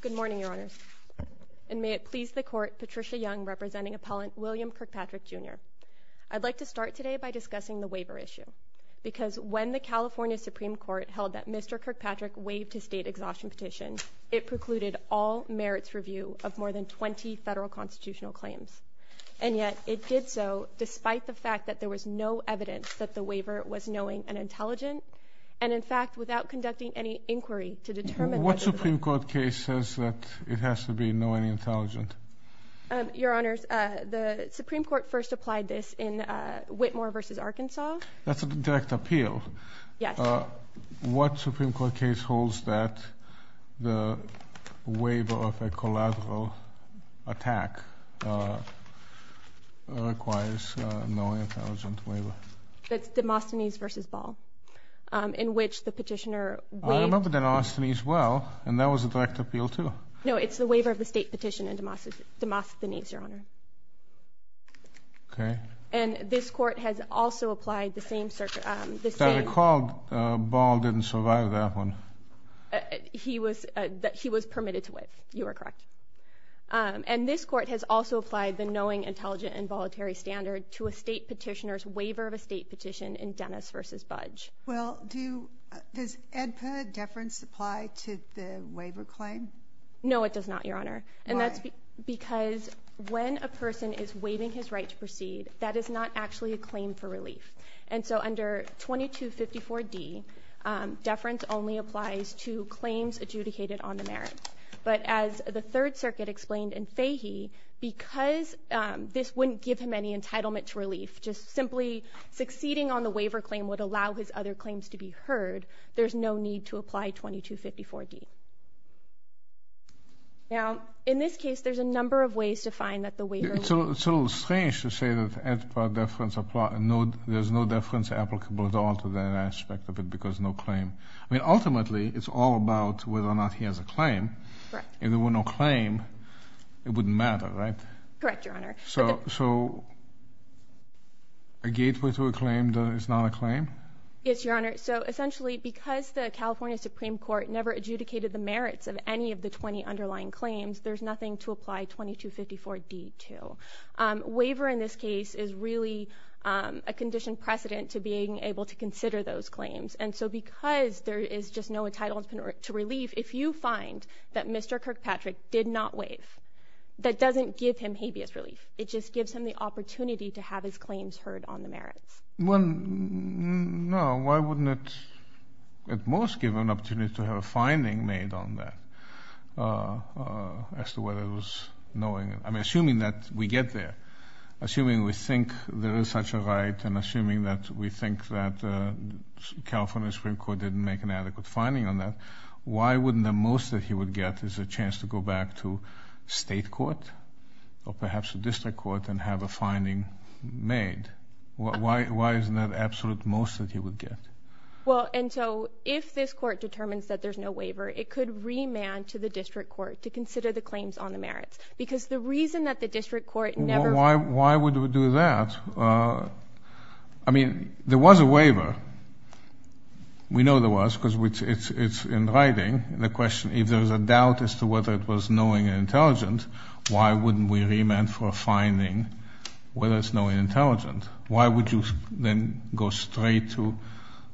Good morning, Your Honors, and may it please the Court, Patricia Young representing appellant William Kirkpatrick, Jr. I'd like to start today by discussing the waiver issue, because when the California Supreme Court held that Mr. Kirkpatrick waived his state exhaustion petition, it precluded all merits review of more than 20 federal constitutional claims. And yet it did so despite the fact that there was no evidence that the waiver was knowing and intelligent, and in fact, without conducting any inquiry to determine— What Supreme Court case says that it has to be knowing and intelligent? Your Honors, the Supreme Court first applied this in Whitmore v. Arkansas. That's a direct appeal. Yes. What Supreme Court case holds that the waiver of a collateral attack requires a knowing and intelligent waiver? That's Demosthenes v. Ball, in which the petitioner waived— I remember Demosthenes well, and that was a direct appeal, too. No, it's the waiver of the state petition in Demosthenes, Your Honor. Okay. And this Court has also applied the same— As I recall, Ball didn't survive that one. He was permitted to waive, you are correct. And this Court has also applied the knowing, intelligent, and voluntary standard to a state petitioner's waiver of a state petition in Dennis v. Budge. Well, does AEDPA deference apply to the waiver claim? No, it does not, Your Honor. Why? And that's because when a person is waiving his right to proceed, that is not actually a claim for relief. And so under 2254D, deference only applies to claims adjudicated on the merits. But as the Third Circuit explained in Fahy, because this wouldn't give him any entitlement to relief, just simply succeeding on the waiver claim would allow his other claims to be heard, there's no need to apply 2254D. Now, in this case, there's a number of ways to find that the waiver— It's a little strange to say that AEDPA deference applies— there's no deference applicable at all to that aspect of it because no claim. I mean, ultimately, it's all about whether or not he has a claim. Correct. And if there were no claim, it wouldn't matter, right? Correct, Your Honor. So a gateway to a claim that is not a claim? Yes, Your Honor. So essentially, because the California Supreme Court never adjudicated the merits of any of the 20 underlying claims, there's nothing to apply 2254D to. Waiver in this case is really a condition precedent to being able to consider those claims. And so because there is just no entitlement to relief, if you find that Mr. Kirkpatrick did not waive, that doesn't give him habeas relief. It just gives him the opportunity to have his claims heard on the merits. Well, no. Why wouldn't it at most give him an opportunity to have a finding made on that as to whether it was knowing—I mean, assuming that we get there, assuming we think there is such a right and assuming that we think that California Supreme Court didn't make an adequate finding on that, why wouldn't the most that he would get is a chance to go back to state court or perhaps a district court and have a finding made? Why isn't that the absolute most that he would get? Well, and so if this court determines that there's no waiver, it could remand to the district court to consider the claims on the merits. Because the reason that the district court never— I mean, there was a waiver. We know there was, because it's in writing. The question, if there's a doubt as to whether it was knowing and intelligent, why wouldn't we remand for a finding whether it's knowing and intelligent? Why would you then go straight to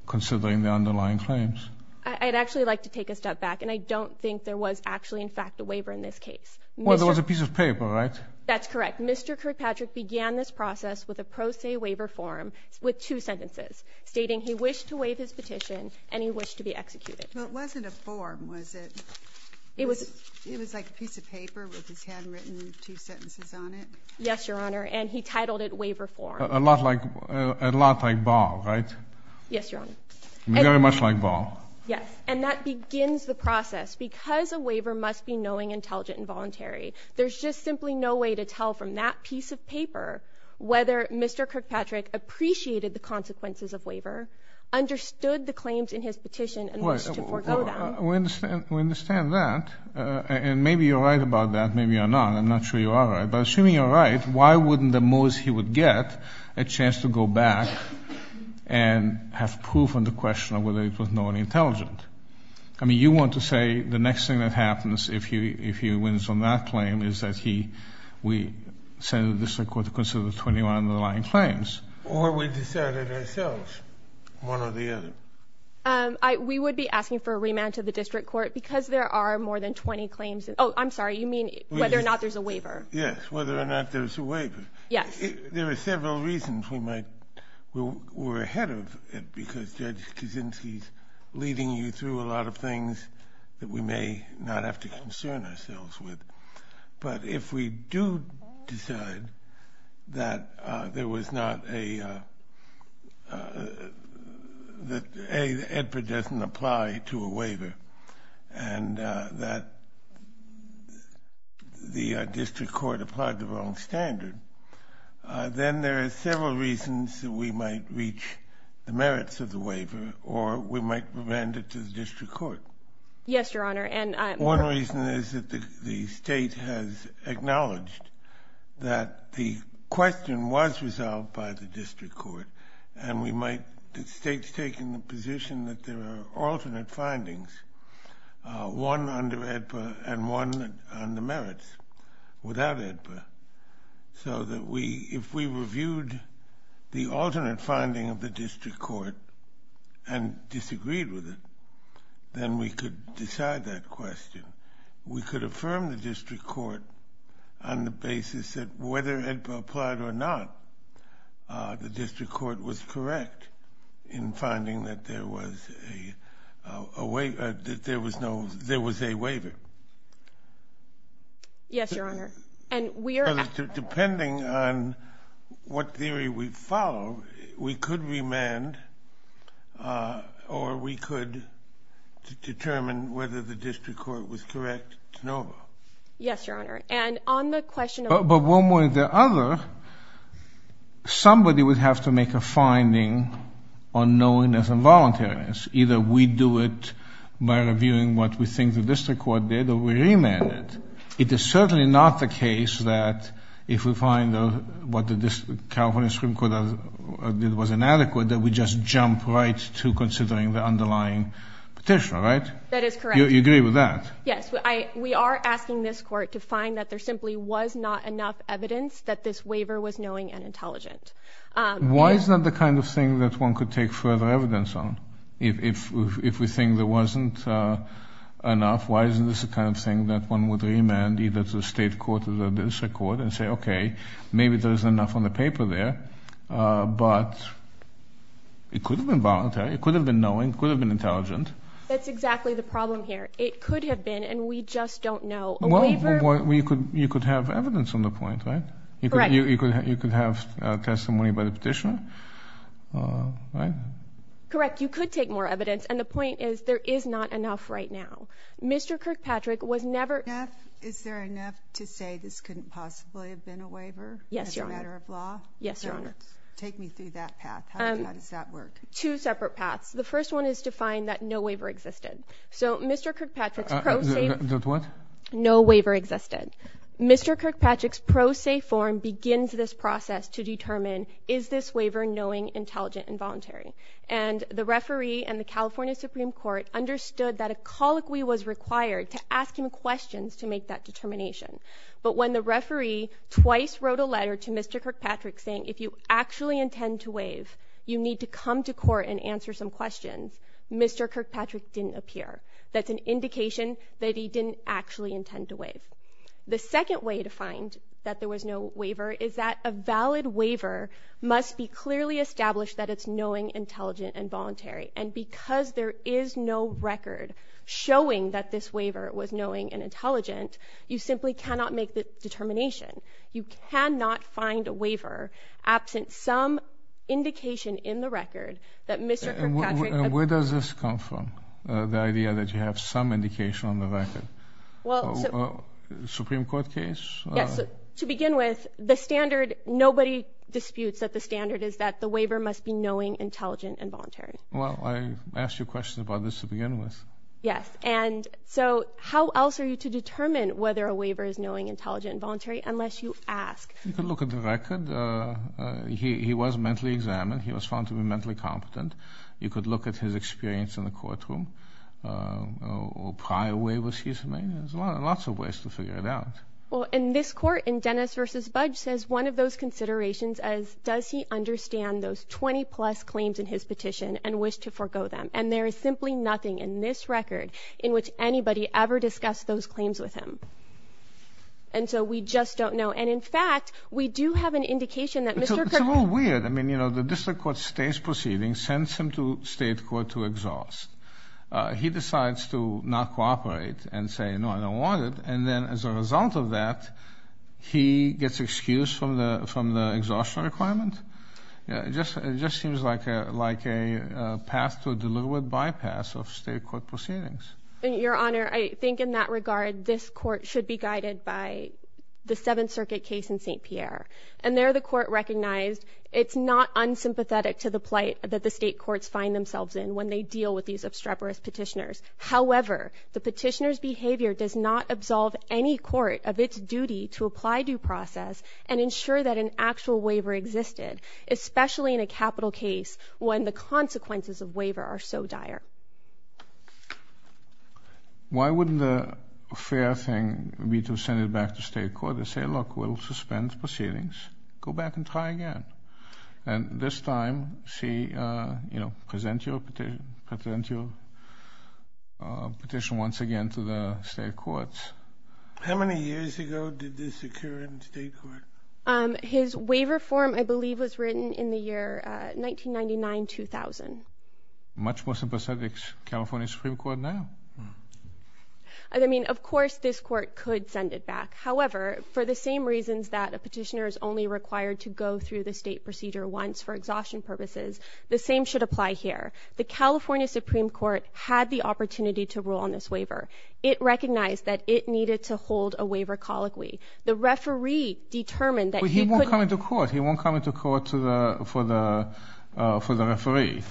considering the underlying claims? I'd actually like to take a step back, and I don't think there was actually, in fact, a waiver in this case. Well, there was a piece of paper, right? That's correct. Mr. Kirkpatrick began this process with a pro se waiver form with two sentences, stating he wished to waive his petition and he wished to be executed. Well, it wasn't a form, was it? It was like a piece of paper with his hand written, two sentences on it? Yes, Your Honor, and he titled it waiver form. A lot like, a lot like Barr, right? Yes, Your Honor. Very much like Barr. Yes, and that begins the process. Because a waiver must be knowing, intelligent, and voluntary, there's just simply no way to tell from that piece of paper whether Mr. Kirkpatrick appreciated the consequences of waiver, understood the claims in his petition, and wished to forego them. We understand that, and maybe you're right about that. Maybe you're not. I'm not sure you are right, but assuming you're right, why wouldn't the moose he would get a chance to go back and have proof on the question of whether it was knowing and intelligent? I mean, you want to say the next thing that happens if he wins on that claim is that we send the district court to consider the 21 underlying claims. Or we decide it ourselves, one or the other. We would be asking for a remand to the district court because there are more than 20 claims. Oh, I'm sorry, you mean whether or not there's a waiver? Yes, whether or not there's a waiver. Yes. There are several reasons we might, we're ahead of it because Judge Kaczynski's leading you through a lot of things that we may not have to concern ourselves with. But if we do decide that there was not a, that A, the EDPA doesn't apply to a waiver, and that the district court applied the wrong standard, then there are several reasons that we might reach the merits of the waiver or we might remand it to the district court. Yes, Your Honor, and I'm... One reason is that the state has acknowledged that the question was resolved by the district court and we might, the state's taken the position that there are alternate findings, one under EDPA and one on the merits without EDPA. So that we, if we reviewed the alternate finding of the district court and disagreed with it, then we could decide that question. We could affirm the district court on the basis that whether EDPA applied or not, the district court was correct in finding that there was a waiver, that there was no, there was a waiver. Yes, Your Honor, and we are... Depending on what theory we follow, we could remand or we could determine whether the district court was correct to no vote. Yes, Your Honor, and on the question of... But one way or the other, somebody would have to make a finding on knowingness and voluntariness. Either we do it by reviewing what we think the district court did or we remand it. It is certainly not the case that if we find what the California Supreme Court did was inadequate that we just jump right to considering the underlying petitioner, right? That is correct. You agree with that? Yes, we are asking this court to find that there simply was not enough evidence that this waiver was knowing and intelligent. Why is that the kind of thing that one could take further evidence on? If we think there wasn't enough, why isn't this the kind of thing that one would remand either to the state court or the district court and say, maybe there isn't enough on the paper there, but it could have been voluntary. It could have been knowing. It could have been intelligent. That's exactly the problem here. It could have been, and we just don't know. You could have evidence on the point, right? Correct. You could have testimony by the petitioner, right? Correct. You could take more evidence, and the point is there is not enough right now. Mr. Kirkpatrick was never... Is there enough to say this couldn't possibly have been a waiver? Yes, Your Honor. As a matter of law? Yes, Your Honor. Take me through that path. How does that work? Two separate paths. The first one is to find that no waiver existed. So Mr. Kirkpatrick's pro se... That what? No waiver existed. Mr. Kirkpatrick's pro se form begins this process to determine, is this waiver knowing, intelligent, and voluntary? And the referee and the California Supreme Court understood that a colloquy was required to ask him questions to make that determination. But when the referee twice wrote a letter to Mr. Kirkpatrick saying, if you actually intend to waive, you need to come to court and answer some questions, Mr. Kirkpatrick didn't appear. That's an indication that he didn't actually intend to waive. The second way to find that there was no waiver is that a valid waiver and because there is no record showing that this waiver was knowing and intelligent, you simply cannot make the determination. You cannot find a waiver absent some indication in the record that Mr. Kirkpatrick... Where does this come from? The idea that you have some indication on the record? Supreme Court case? Yes. To begin with, the standard, nobody disputes that the standard is that the waiver must be knowing, intelligent, and voluntary. Well, I asked you a question about this to begin with. Yes. And so how else are you to determine whether a waiver is knowing, intelligent, and voluntary unless you ask? You can look at the record. He was mentally examined. He was found to be mentally competent. You could look at his experience in the courtroom. Or prior waivers he's made. There's lots of ways to figure it out. Well, in this court, in Dennis v. Budge says one of those considerations as does he understand those 20-plus claims in his petition and wish to forego them? And there is simply nothing in this record in which anybody ever discussed those claims with him. And so we just don't know. And in fact, we do have an indication that Mr. Kirkpatrick... It's a little weird. I mean, you know, the district court stays proceeding, sends him to state court to exhaust. He decides to not cooperate and say, no, I don't want it. And then as a result of that, he gets excused from the exhaustion requirement. It just seems like a path to a deliberate bypass of state court proceedings. Your Honor, I think in that regard, this court should be guided by the Seventh Circuit case in St. Pierre. And there the court recognized it's not unsympathetic to the plight that the state courts find themselves in when they deal with these obstreperous petitioners. However, the petitioner's behavior does not absolve any court of its duty to apply due process and ensure that an actual waiver existed, especially in a capital case when the consequences of waiver are so dire. Why wouldn't the fair thing be to send it back to state court and say, look, we'll suspend proceedings, go back and try again. And this time, she, you know, present your petition once again to the state courts. How many years ago did this occur in state court? His waiver form, I believe, was written in the year 1999-2000. Much more sympathetic to California Supreme Court now? I mean, of course, this court could send it back. However, for the same reasons that a petitioner is only required to go through the state procedure once for exhaustion purposes, the same should apply here. The California Supreme Court had the opportunity to rule on this waiver. It recognized that it needed to hold a waiver colloquy. The referee determined that he couldn't- But he won't come into court. He won't come into court for the referee.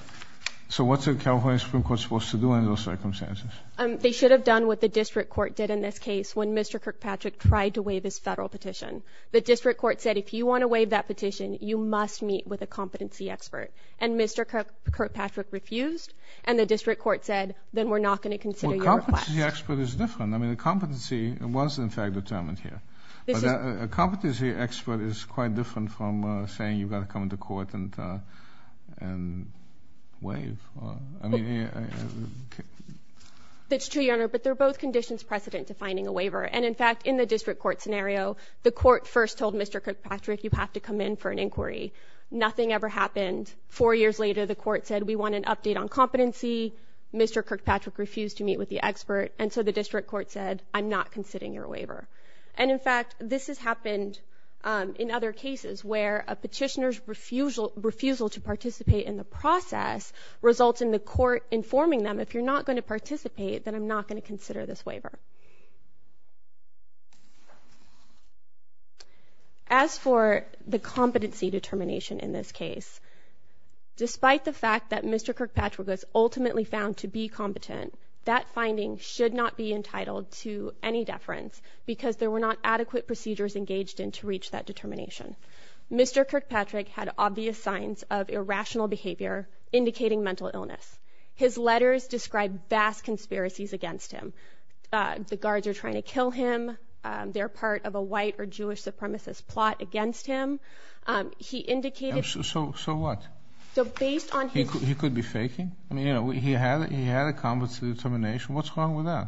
So what's the California Supreme Court supposed to do in those circumstances? They should have done what the district court did in this case when Mr. Kirkpatrick tried to waive his federal petition. The district court said, if you want to waive that petition, you must meet with a competency expert. And Mr. Kirkpatrick refused. And the district court said, then we're not going to consider your request. Well, competency expert is different. I mean, the competency was, in fact, determined here. But a competency expert is quite different from saying you've got to come into court and waive. That's true, Your Honor. But they're both conditions precedent to finding a waiver. And, in fact, in the district court scenario, the court first told Mr. Kirkpatrick, you have to come in for an inquiry. Nothing ever happened. Four years later, the court said, we want an update on competency. Mr. Kirkpatrick refused to meet with the expert. And so the district court said, I'm not considering your waiver. And, in fact, this has happened in other cases where a petitioner's refusal to participate in the process results in the court informing them, if you're not going to participate, then I'm not going to consider this waiver. As for the competency determination in this case, despite the fact that Mr. Kirkpatrick was ultimately found to be competent, that finding should not be entitled to any deference because there were not adequate procedures engaged in to reach that determination. Mr. Kirkpatrick had obvious signs of irrational behavior indicating mental illness. His letters described vast conspiracies against him. The guards are trying to kill him. They're part of a white or Jewish supremacist plot against him. He indicated... So what? So based on... He could be faking? I mean, you know, he had a competency determination. What's wrong with that?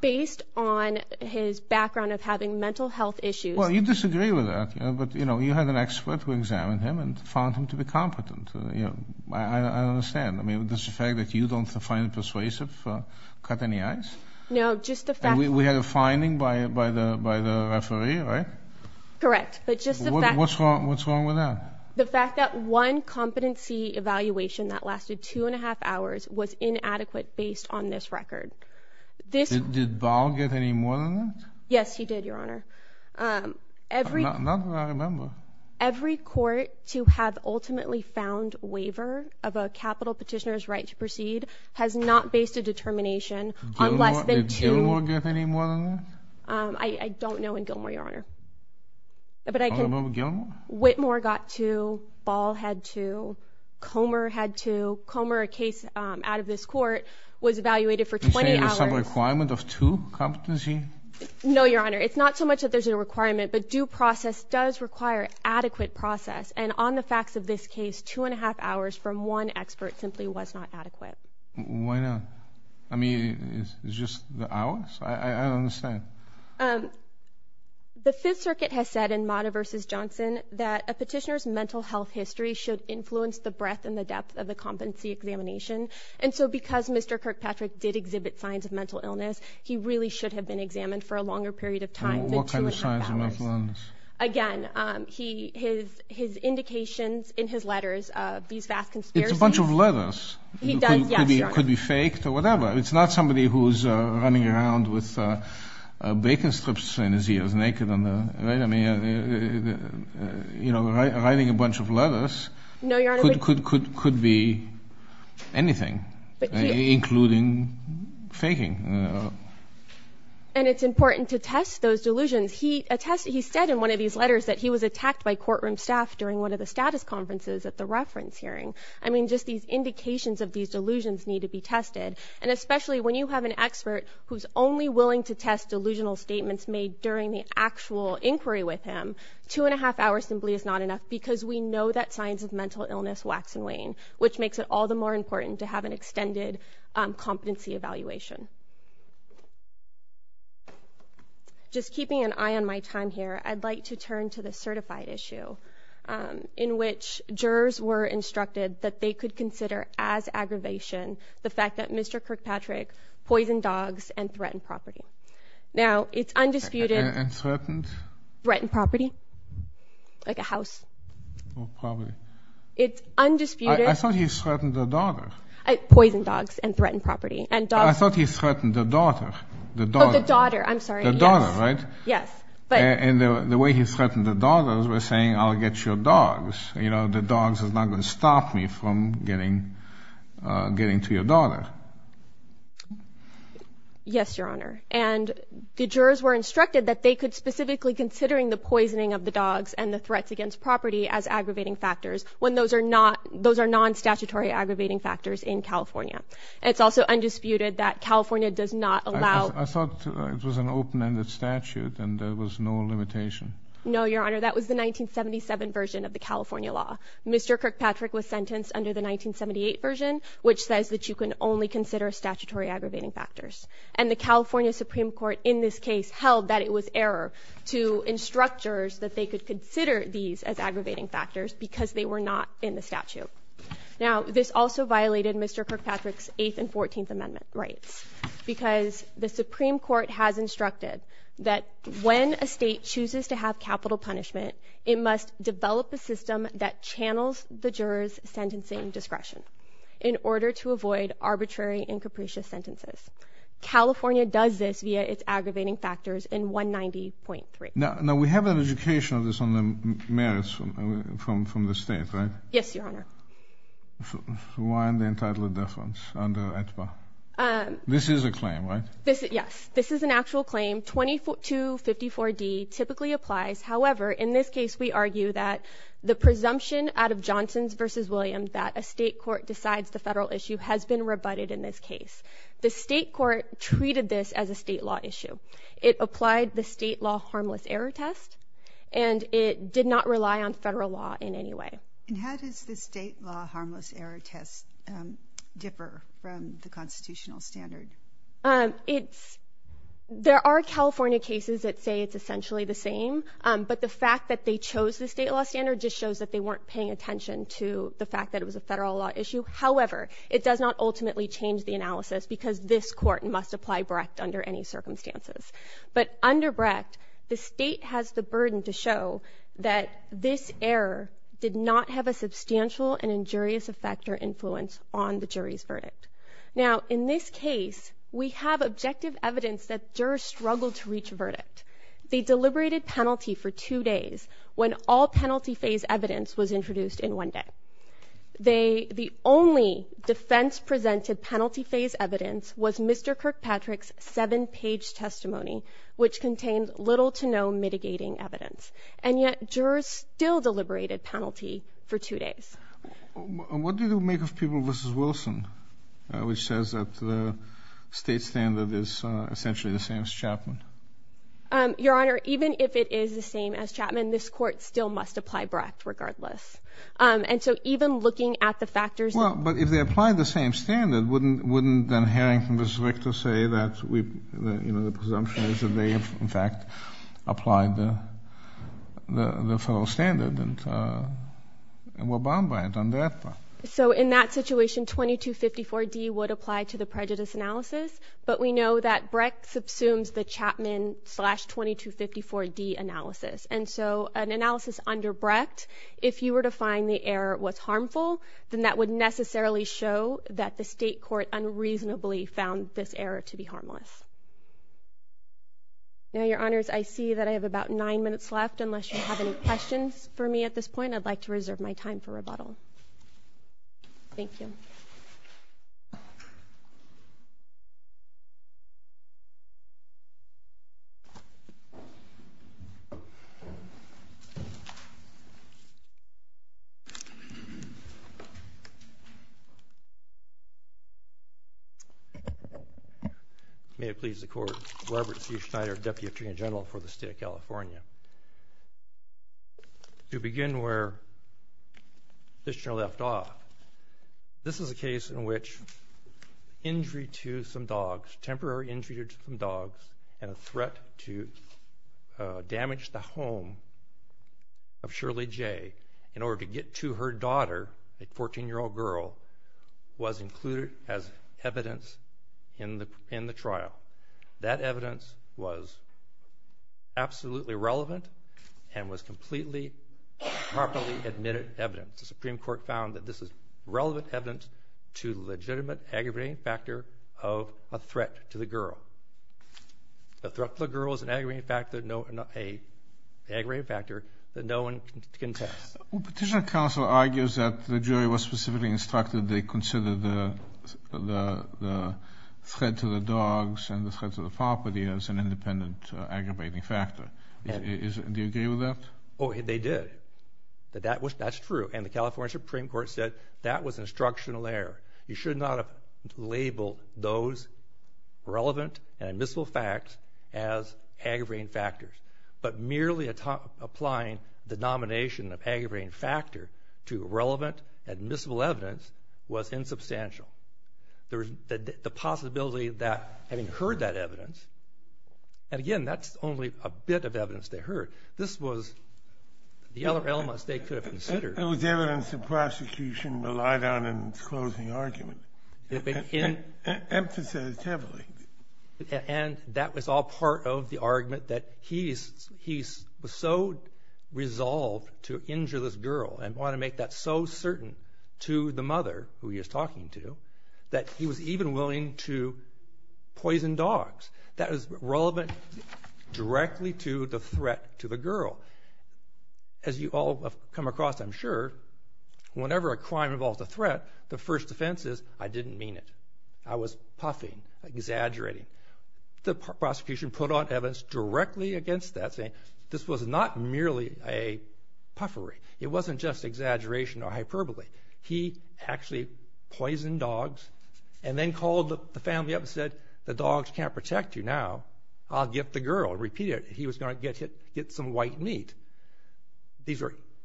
Based on his background of having mental health issues... Well, you disagree with that. But, you know, you had an expert who examined him and found him to be competent. You know, I understand. I mean, does the fact that you don't find it persuasive cut any ice? No, just the fact... We had a finding by the referee, right? Correct. But just the fact... What's wrong with that? The fact that one competency evaluation that lasted two and a half hours was inadequate based on this record. Did Bow get any more than that? Yes, he did, Your Honor. Not that I remember. Every court to have ultimately found waiver of a capital petitioner's right to proceed has not based a determination on less than two... Did Gilmour get any more than that? I don't know in Gilmour, Your Honor. But I can... All about Gilmour? Whitmore got two. Ball had two. Comer had two. Comer, a case out of this court, was evaluated for 20 hours... You're saying there's some requirement of two competency? No, Your Honor. It's not so much that there's a requirement, but due process does require adequate process. And on the facts of this case, two and a half hours from one expert simply was not adequate. Why not? I mean, it's just the hours? I don't understand. The Fifth Circuit has said in Motta v. Johnson that a petitioner's mental health history should influence the breadth and the depth of the competency examination. And so because Mr. Kirkpatrick did exhibit signs of mental illness, he really should have been examined for a longer period of time than two and a half hours. What kind of signs of mental illness? Again, his indications in his letters of these vast conspiracies... It's a bunch of letters. He does, yes. Could be faked or whatever. It's not somebody who's running around with bacon strips in his ears, naked. You know, writing a bunch of letters could be anything, including faking. And it's important to test those delusions. He said in one of these letters that he was attacked by courtroom staff during one of the status conferences at the reference hearing. I mean, just these indications of these delusions need to be tested. And especially when you have an expert who's only willing to test delusional statements made during the actual inquiry with him, two and a half hours simply is not enough because we know that signs of mental illness wax and wane, which makes it all the more important to have an extended competency evaluation. Just keeping an eye on my time here, I'd like to turn to the certified issue in which jurors were instructed that they could consider as aggravation the fact that Mr. Kirkpatrick poisoned dogs and threatened property. Now, it's undisputed... And threatened? Threatened property. Like a house. It's undisputed... I thought he threatened the daughter. Poisoned dogs and threatened property. I thought he threatened the daughter. The daughter, I'm sorry. The daughter, right? Yes, but... And the way he threatened the daughter was by saying, I'll get your dogs. You know, the dogs is not going to stop me from getting to your daughter. Yes, Your Honor. And the jurors were instructed that they could specifically considering the poisoning of the dogs and the threats against property as aggravating factors when those are non-statutory aggravating factors in California. It's also undisputed that California does not allow... I thought it was an open-ended statute and there was no limitation. No, Your Honor. That was the 1977 version of the California law. Mr. Kirkpatrick was sentenced under the 1978 version, which says that you can only consider statutory aggravating factors. And the California Supreme Court in this case held that it was error to instruct jurors that they could consider these as aggravating factors because they were not in the statute. Now, this also violated Mr. Kirkpatrick's 8th and 14th Amendment rights because the Supreme Court has instructed that when a state chooses to have capital punishment, it must develop a system that channels the jurors' sentencing discretion in order to avoid arbitrary and capricious sentences. California does this via its aggravating factors in 190.3. Now, we have an education of this on the merits from the state, right? Yes, Your Honor. Why the entitlement deference under AEDPA? This is a claim, right? Yes, this is an actual claim. 2254D typically applies. However, in this case, we argue that the presumption out of Johnson v. Williams that a state court decides the federal issue has been rebutted in this case. The state court treated this as a state law issue. It applied the state law harmless error test and it did not rely on federal law in any way. And how does the state law harmless error test differ from the constitutional standard? There are California cases that say it's essentially the same, but the fact that they chose the state law standard just shows that they weren't paying attention to the fact that it was a federal law issue. However, it does not ultimately change the analysis because this court must apply Brecht under any circumstances. But under Brecht, the state has the burden to show that this error did not have a substantial and injurious effect or influence on the jury's verdict. Now, in this case, we have objective evidence that jurors struggled to reach a verdict. They deliberated penalty for two days when all penalty phase evidence was introduced in one day. They the only defense presented penalty phase evidence was Mr. Kirkpatrick's seven page testimony, which contained little to no mitigating evidence. And yet jurors still deliberated penalty for two days. What do you make of People v. Wilson, which says that the state standard is essentially the same as Chapman? Your Honor, even if it is the same as Chapman, this court still must apply Brecht regardless. And so even looking at the factors... Well, but if they apply the same standard, wouldn't then Harrington v. Richter say that the presumption is that they have, in fact, applied the federal standard and were bound by it on that part? So in that situation, 2254D would apply to the prejudice analysis. But we know that Brecht subsumes the Chapman slash 2254D analysis. And so an analysis under Brecht, if you were to find the error was harmful, then that would necessarily show that the state court unreasonably found this error to be harmless. Now, Your Honors, I see that I have about nine minutes left. Unless you have any questions for me at this point, I'd like to reserve my time for rebuttal. Thank you. May it please the Court. Robert C. Schneider, Deputy Attorney General for the State of California. To begin where Kistner left off, this is a case in which injury to some dogs, temporary injury to some dogs, and a threat to damage the home of Shirley J. in order to get to her daughter, a 14-year-old girl, was included as evidence in the trial. That evidence was absolutely relevant and was completely properly admitted evidence. The Supreme Court found that this is relevant evidence to the legitimate aggravating factor of a threat to the girl. A threat to the girl is an aggravating factor that no one can test. Petitioner counsel argues that the jury was specifically instructed they consider the threat to the dogs and the threat to the property as an independent aggravating factor. Do you agree with that? Oh, they did. That's true. And the California Supreme Court said that was instructional error. You should not have labeled those relevant and admissible facts as aggravating factors. But merely applying the denomination of aggravating factor to relevant admissible evidence was insubstantial. The possibility that having heard that evidence, and again, that's only a bit of evidence they heard, this was the other elements they could have considered. It was evidence the prosecution relied on in its closing argument. Emphasized heavily. And that was all part of the argument that he was so resolved to injure this girl and want to make that so certain to the mother who he was talking to that he was even willing to poison dogs. That was relevant directly to the threat to the girl. As you all have come across, I'm sure, whenever a crime involves a threat, the first defense is, I didn't mean it. I was puffing, exaggerating. The prosecution put on evidence directly against that, saying this was not merely a puffery. It wasn't just exaggeration or hyperbole. He actually poisoned dogs and then called the family up and said, the dogs can't protect you now. I'll get the girl. He was going to get some white meat.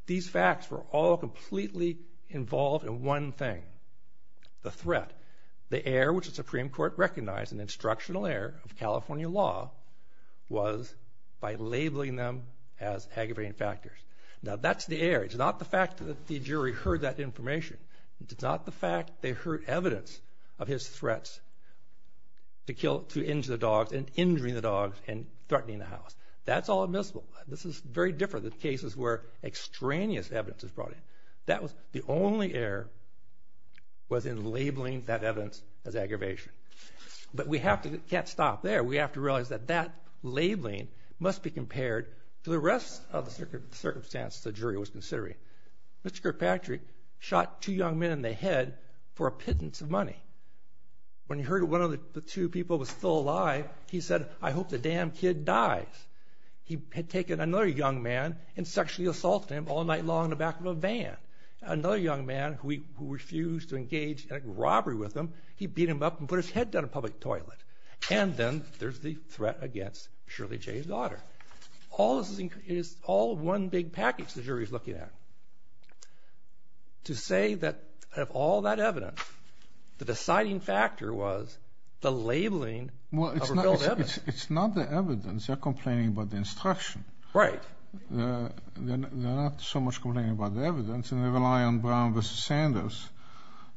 These facts were all completely involved in one thing. The threat. The heir, which the Supreme Court recognized, an instructional heir of California law, was by labeling them as aggravating factors. Now, that's the heir. It's not the fact that the jury heard that information. It's not the fact they heard evidence of his threats to injure the dogs and injuring the house. That's all admissible. This is very different than cases where extraneous evidence is brought in. That was the only heir was in labeling that evidence as aggravation. But we can't stop there. We have to realize that that labeling must be compared to the rest of the circumstances the jury was considering. Mr. Kirkpatrick shot two young men in the head for a pittance of money. When he heard one of the two people was still alive, he said, I hope the damn kid dies. He had taken another young man and sexually assaulted him all night long in the back of a van. Another young man who refused to engage in a robbery with him, he beat him up and put his head down in a public toilet. And then there's the threat against Shirley J's daughter. All this is all one big package the jury's looking at. To say that of all that evidence, the deciding factor was the labeling of revealed evidence. It's not the evidence. They're complaining about the instruction. Right. They're not so much complaining about the evidence. And they rely on Brown v. Sanders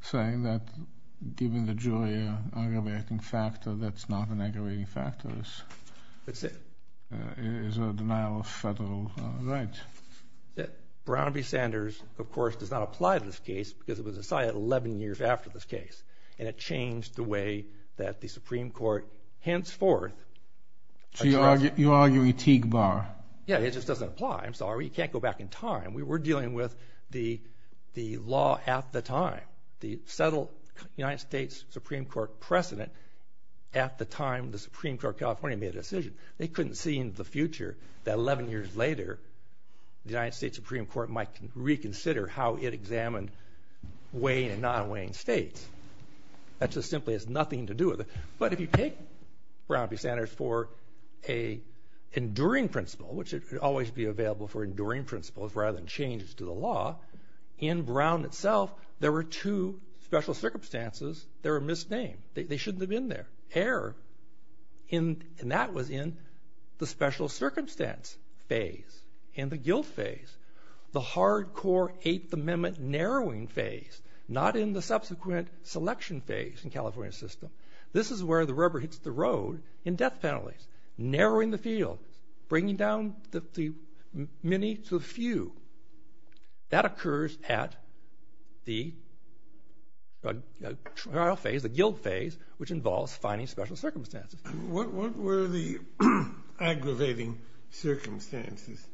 saying that given the jury aggravating factor, that's not an aggravating factor. It is a denial of federal rights. Brown v. Sanders, of course, does not apply to this case because it was decided 11 years after this case. And it changed the way that the Supreme Court, henceforth. You're arguing Teague Bar. Yeah, it just doesn't apply. I'm sorry. You can't go back in time. We were dealing with the law at the time. The settled United States Supreme Court precedent at the time the Supreme Court of California made a decision. They couldn't see in the future that 11 years later, the United States Supreme Court might reconsider how it examined weighing and not weighing states. That just simply has nothing to do with it. But if you take Brown v. Sanders for an enduring principle, which should always be available for enduring principles rather than changes to the law, in Brown itself, there were two special circumstances that were misnamed. They shouldn't have been there. Error. And that was in the special circumstance phase, in the guilt phase, the hardcore Eighth Amendment narrowing phase, not in the subsequent selection phase in California's system. This is where the rubber hits the road in death penalties. Narrowing the field, bringing down the many to the few. That occurs at the trial phase, the guilt phase, which involves finding special circumstances. What were the aggravating circumstances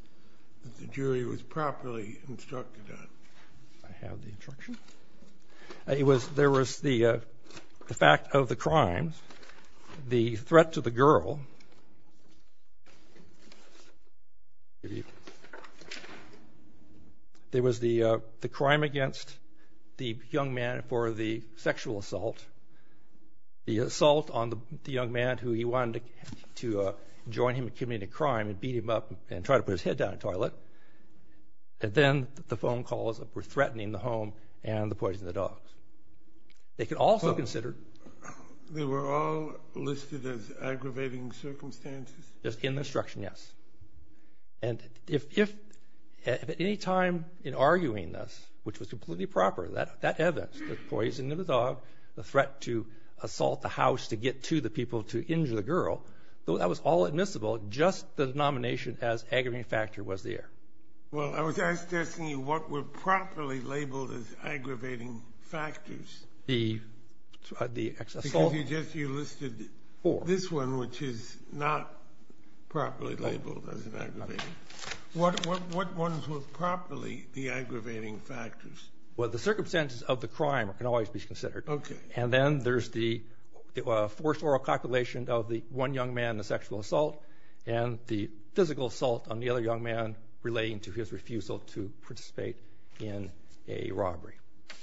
that the jury was properly instructed on? I have the instruction. There was the fact of the crimes, the threat to the girl. There was the crime against the young man for the sexual assault, the assault on the young man who he wanted to join him in committing a crime and beat him up and try to put his head down in the toilet. And then the phone calls were threatening the home and the poisoning of the dogs. They could also consider... They were all listed as aggravating circumstances? Just in the instruction, yes. And if at any time in arguing this, which was completely proper, that evidence, the poisoning of the dog, the threat to assault the house to get to the people to injure the girl, though that was all admissible, just the denomination as aggravating factor was there. Well, I was asking you what were properly labeled as aggravating factors. The excess assault? Because you listed this one, which is not properly labeled as aggravating. What ones were properly the aggravating factors? Well, the circumstances of the crime can always be considered. OK. And then there's the forced oral calculation of the one young man, the sexual assault, and the physical assault on the other young man relating to his refusal to participate in a robbery.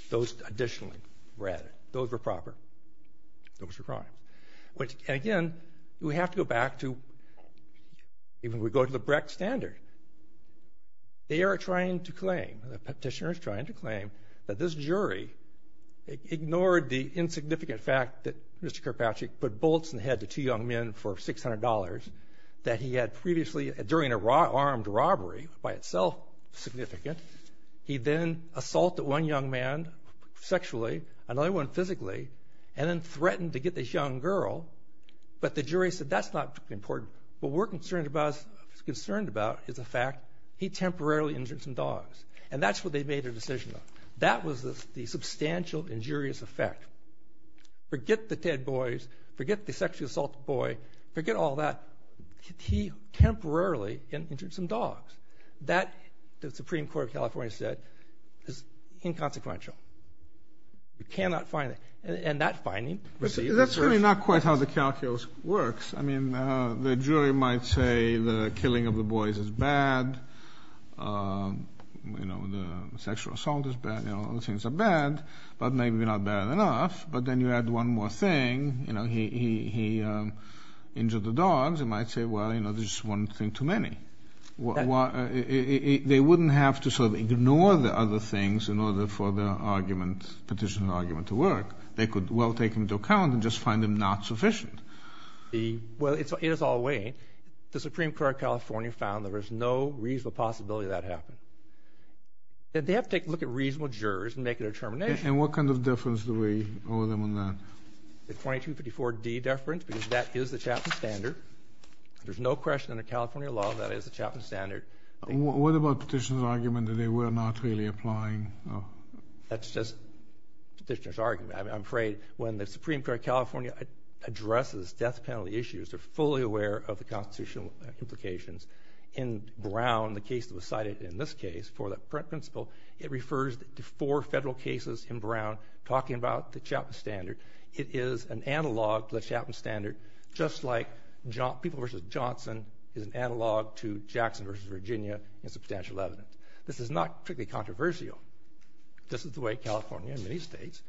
Those, additionally, were added. Those were proper. Those were crime. Again, we have to go back to... Even if we go to the Brecht standard, they are trying to claim, the petitioner is trying to claim, that this jury ignored the insignificant fact that Mr. Karpatchik put bolts in the for $600 that he had previously, during an armed robbery, by itself significant. He then assaulted one young man sexually, another one physically, and then threatened to get this young girl, but the jury said that's not important. What we're concerned about is the fact he temporarily injured some dogs, and that's what they made their decision on. That was the substantial injurious effect. Forget the dead boys. Forget the sexually assaulted boy. Forget all that. He temporarily injured some dogs. That, the Supreme Court of California said, is inconsequential. We cannot find it. And that finding received... That's really not quite how the calculus works. I mean, the jury might say the killing of the boys is bad, you know, the sexual assault is bad, you know, other things are bad, but maybe not bad enough, but then you add one more thing, you know, he injured the dogs, it might say, well, you know, there's one thing too many. They wouldn't have to sort of ignore the other things in order for the argument, petitioner's argument to work. They could well take him into account and just find him not sufficient. Well, in its own way, the Supreme Court of California found that there's no reasonable possibility that happened. And they have to take a look at reasonable jurors and make a determination. And what kind of deference do we owe them on that? The 2254D deference, because that is the Chapman Standard. There's no question under California law that is the Chapman Standard. What about petitioner's argument that they were not really applying? That's just petitioner's argument. I'm afraid when the Supreme Court of California addresses death penalty issues, they're fully aware of the constitutional implications. In Brown, the case that was cited in this case for the principal, it refers to four federal cases in Brown talking about the Chapman Standard. It is an analog to the Chapman Standard, just like people versus Johnson is an analog to Jackson versus Virginia in substantial evidence. This is not particularly controversial. This is the way California and many states,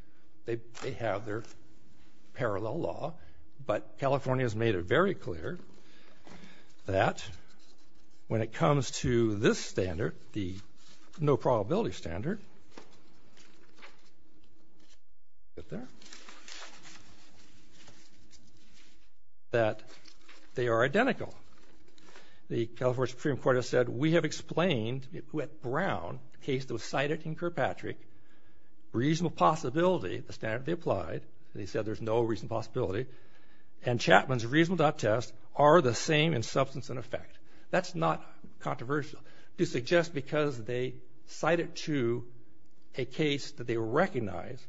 they have their parallel law. But California has made it very clear that when it comes to this standard, the no probability standard, that they are identical. The California Supreme Court has said, we have explained with Brown, the case that was cited in Kirkpatrick, reasonable possibility, the standard they applied, they said there's no reasonable possibility. And Chapman's reasonable doubt tests are the same in substance and effect. That's not controversial. To suggest because they cite it to a case that they recognize,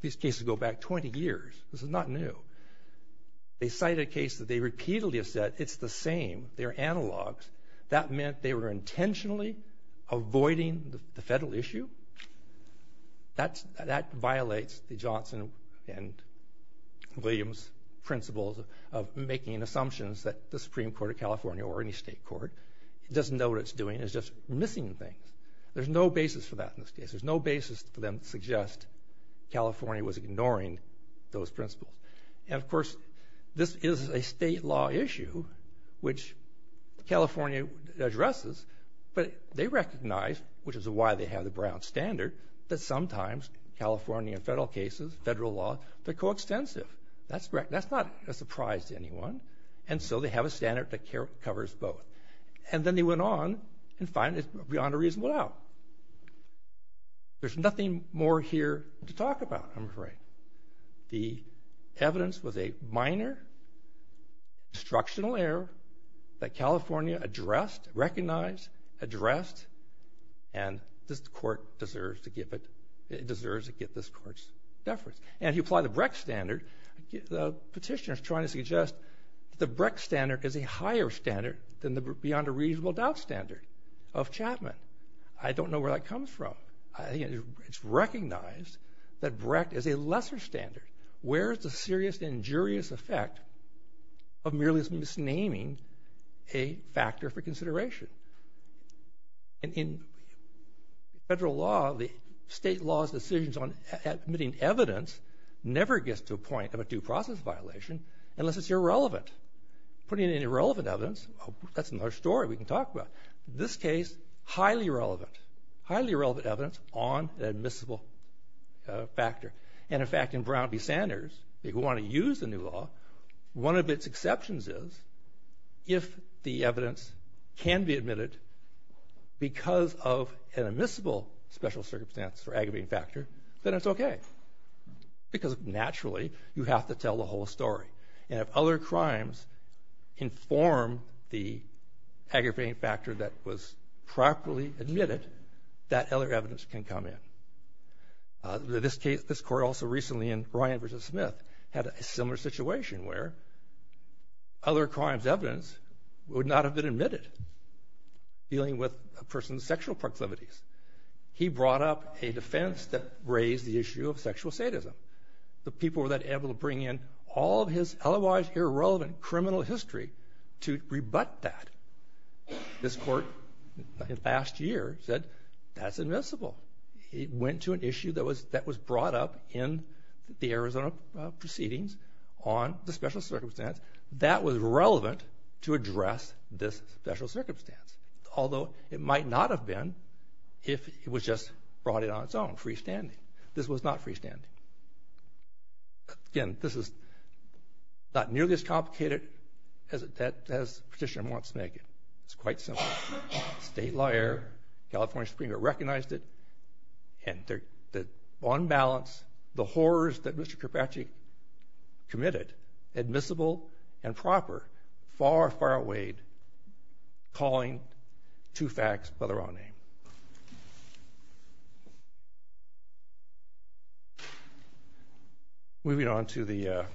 these cases go back 20 years, this is not new. They cite a case that they repeatedly have said it's the same, they're analogs. That meant they were intentionally avoiding the federal issue. That violates the Johnson and Williams principles of making assumptions that the Supreme Court of California or any state court doesn't know what it's doing. It's just missing things. There's no basis for that in this case. There's no basis for them to suggest California was ignoring those principles. And of course, this is a state law issue, which California addresses, but they recognize, which is why they have the Brown standard, that sometimes California and federal cases, federal law, they're coextensive. That's correct. That's not a surprise to anyone. And so they have a standard that covers both. And then they went on and found it beyond a reasonable doubt. There's nothing more here to talk about, I'm afraid. The evidence was a minor instructional error that California addressed, recognized, addressed, and this court deserves to get this court's deference. And if you apply the Brecht standard, the petitioner's trying to suggest the Brecht standard is a higher standard than the beyond a reasonable doubt standard of Chapman. I don't know where that comes from. It's recognized that Brecht is a lesser standard. Where is the serious injurious effect of merely misnaming a factor for consideration? And in federal law, the state law's decisions on admitting evidence never gets to a point of a due process violation unless it's irrelevant. Putting in irrelevant evidence, that's another story we can talk about. This case, highly irrelevant. Highly irrelevant evidence on an admissible factor. And in fact, in Brown v. Sanders, if you want to use the new law, one of its exceptions is if the evidence can be admitted because of an admissible special circumstance or aggravating factor, then it's okay. Because naturally, you have to tell the whole story. And if other crimes inform the aggravating factor that was properly admitted, that other evidence can come in. In this case, this court also recently in Ryan v. Smith had a similar situation where other crimes' evidence would not have been admitted dealing with a person's sexual proclivities. He brought up a defense that raised the issue of sexual sadism. The people were then able to bring in all of his otherwise irrelevant criminal history to rebut that. This court last year said, that's admissible. It went to an issue that was brought up in the Arizona proceedings on the special circumstance that was relevant to address this special circumstance. Although it might not have been if it was just brought in on its own, freestanding. This was not freestanding. Again, this is not nearly as complicated as the petitioner wants to make it. It's quite simple. State lawyer, California Supreme Court recognized it. And on balance, the horrors that Mr. Karpatchi committed, admissible and proper, far, far outweighed calling two facts by their own name. Moving on to the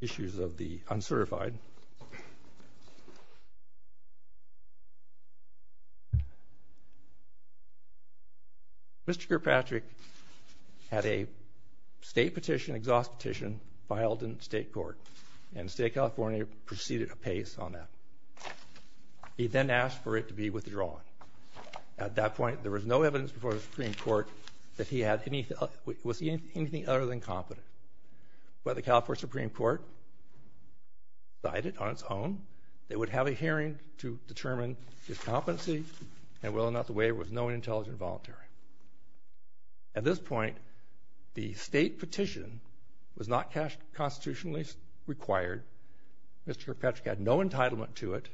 issues of the uncertified. Mr. Karpatchi had a state petition, exhaust petition filed in state court. And the state of California proceeded apace on that. He then asked for it to be withdrawn. At that point, there was no evidence before the Supreme Court that he was anything other than competent. But the California Supreme Court decided on its own that it would have a hearing to determine competency and whether or not the waiver was known, intelligent, or voluntary. At this point, the state petition was not constitutionally required. Mr. Karpatchi had no entitlement to it.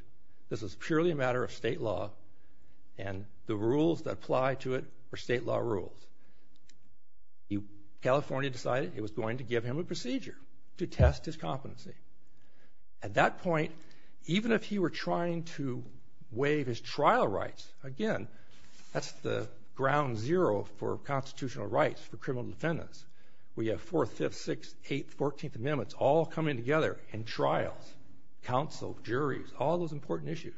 This is purely a matter of state law. And the rules that apply to it were state law rules. California decided it was going to give him a procedure to test his competency. At that point, even if he were trying to waive his trial rights, again, that's the ground zero for constitutional rights for criminal defendants. We have 4th, 5th, 6th, 8th, 14th Amendments all coming together in trials, counsel, juries, all those important issues.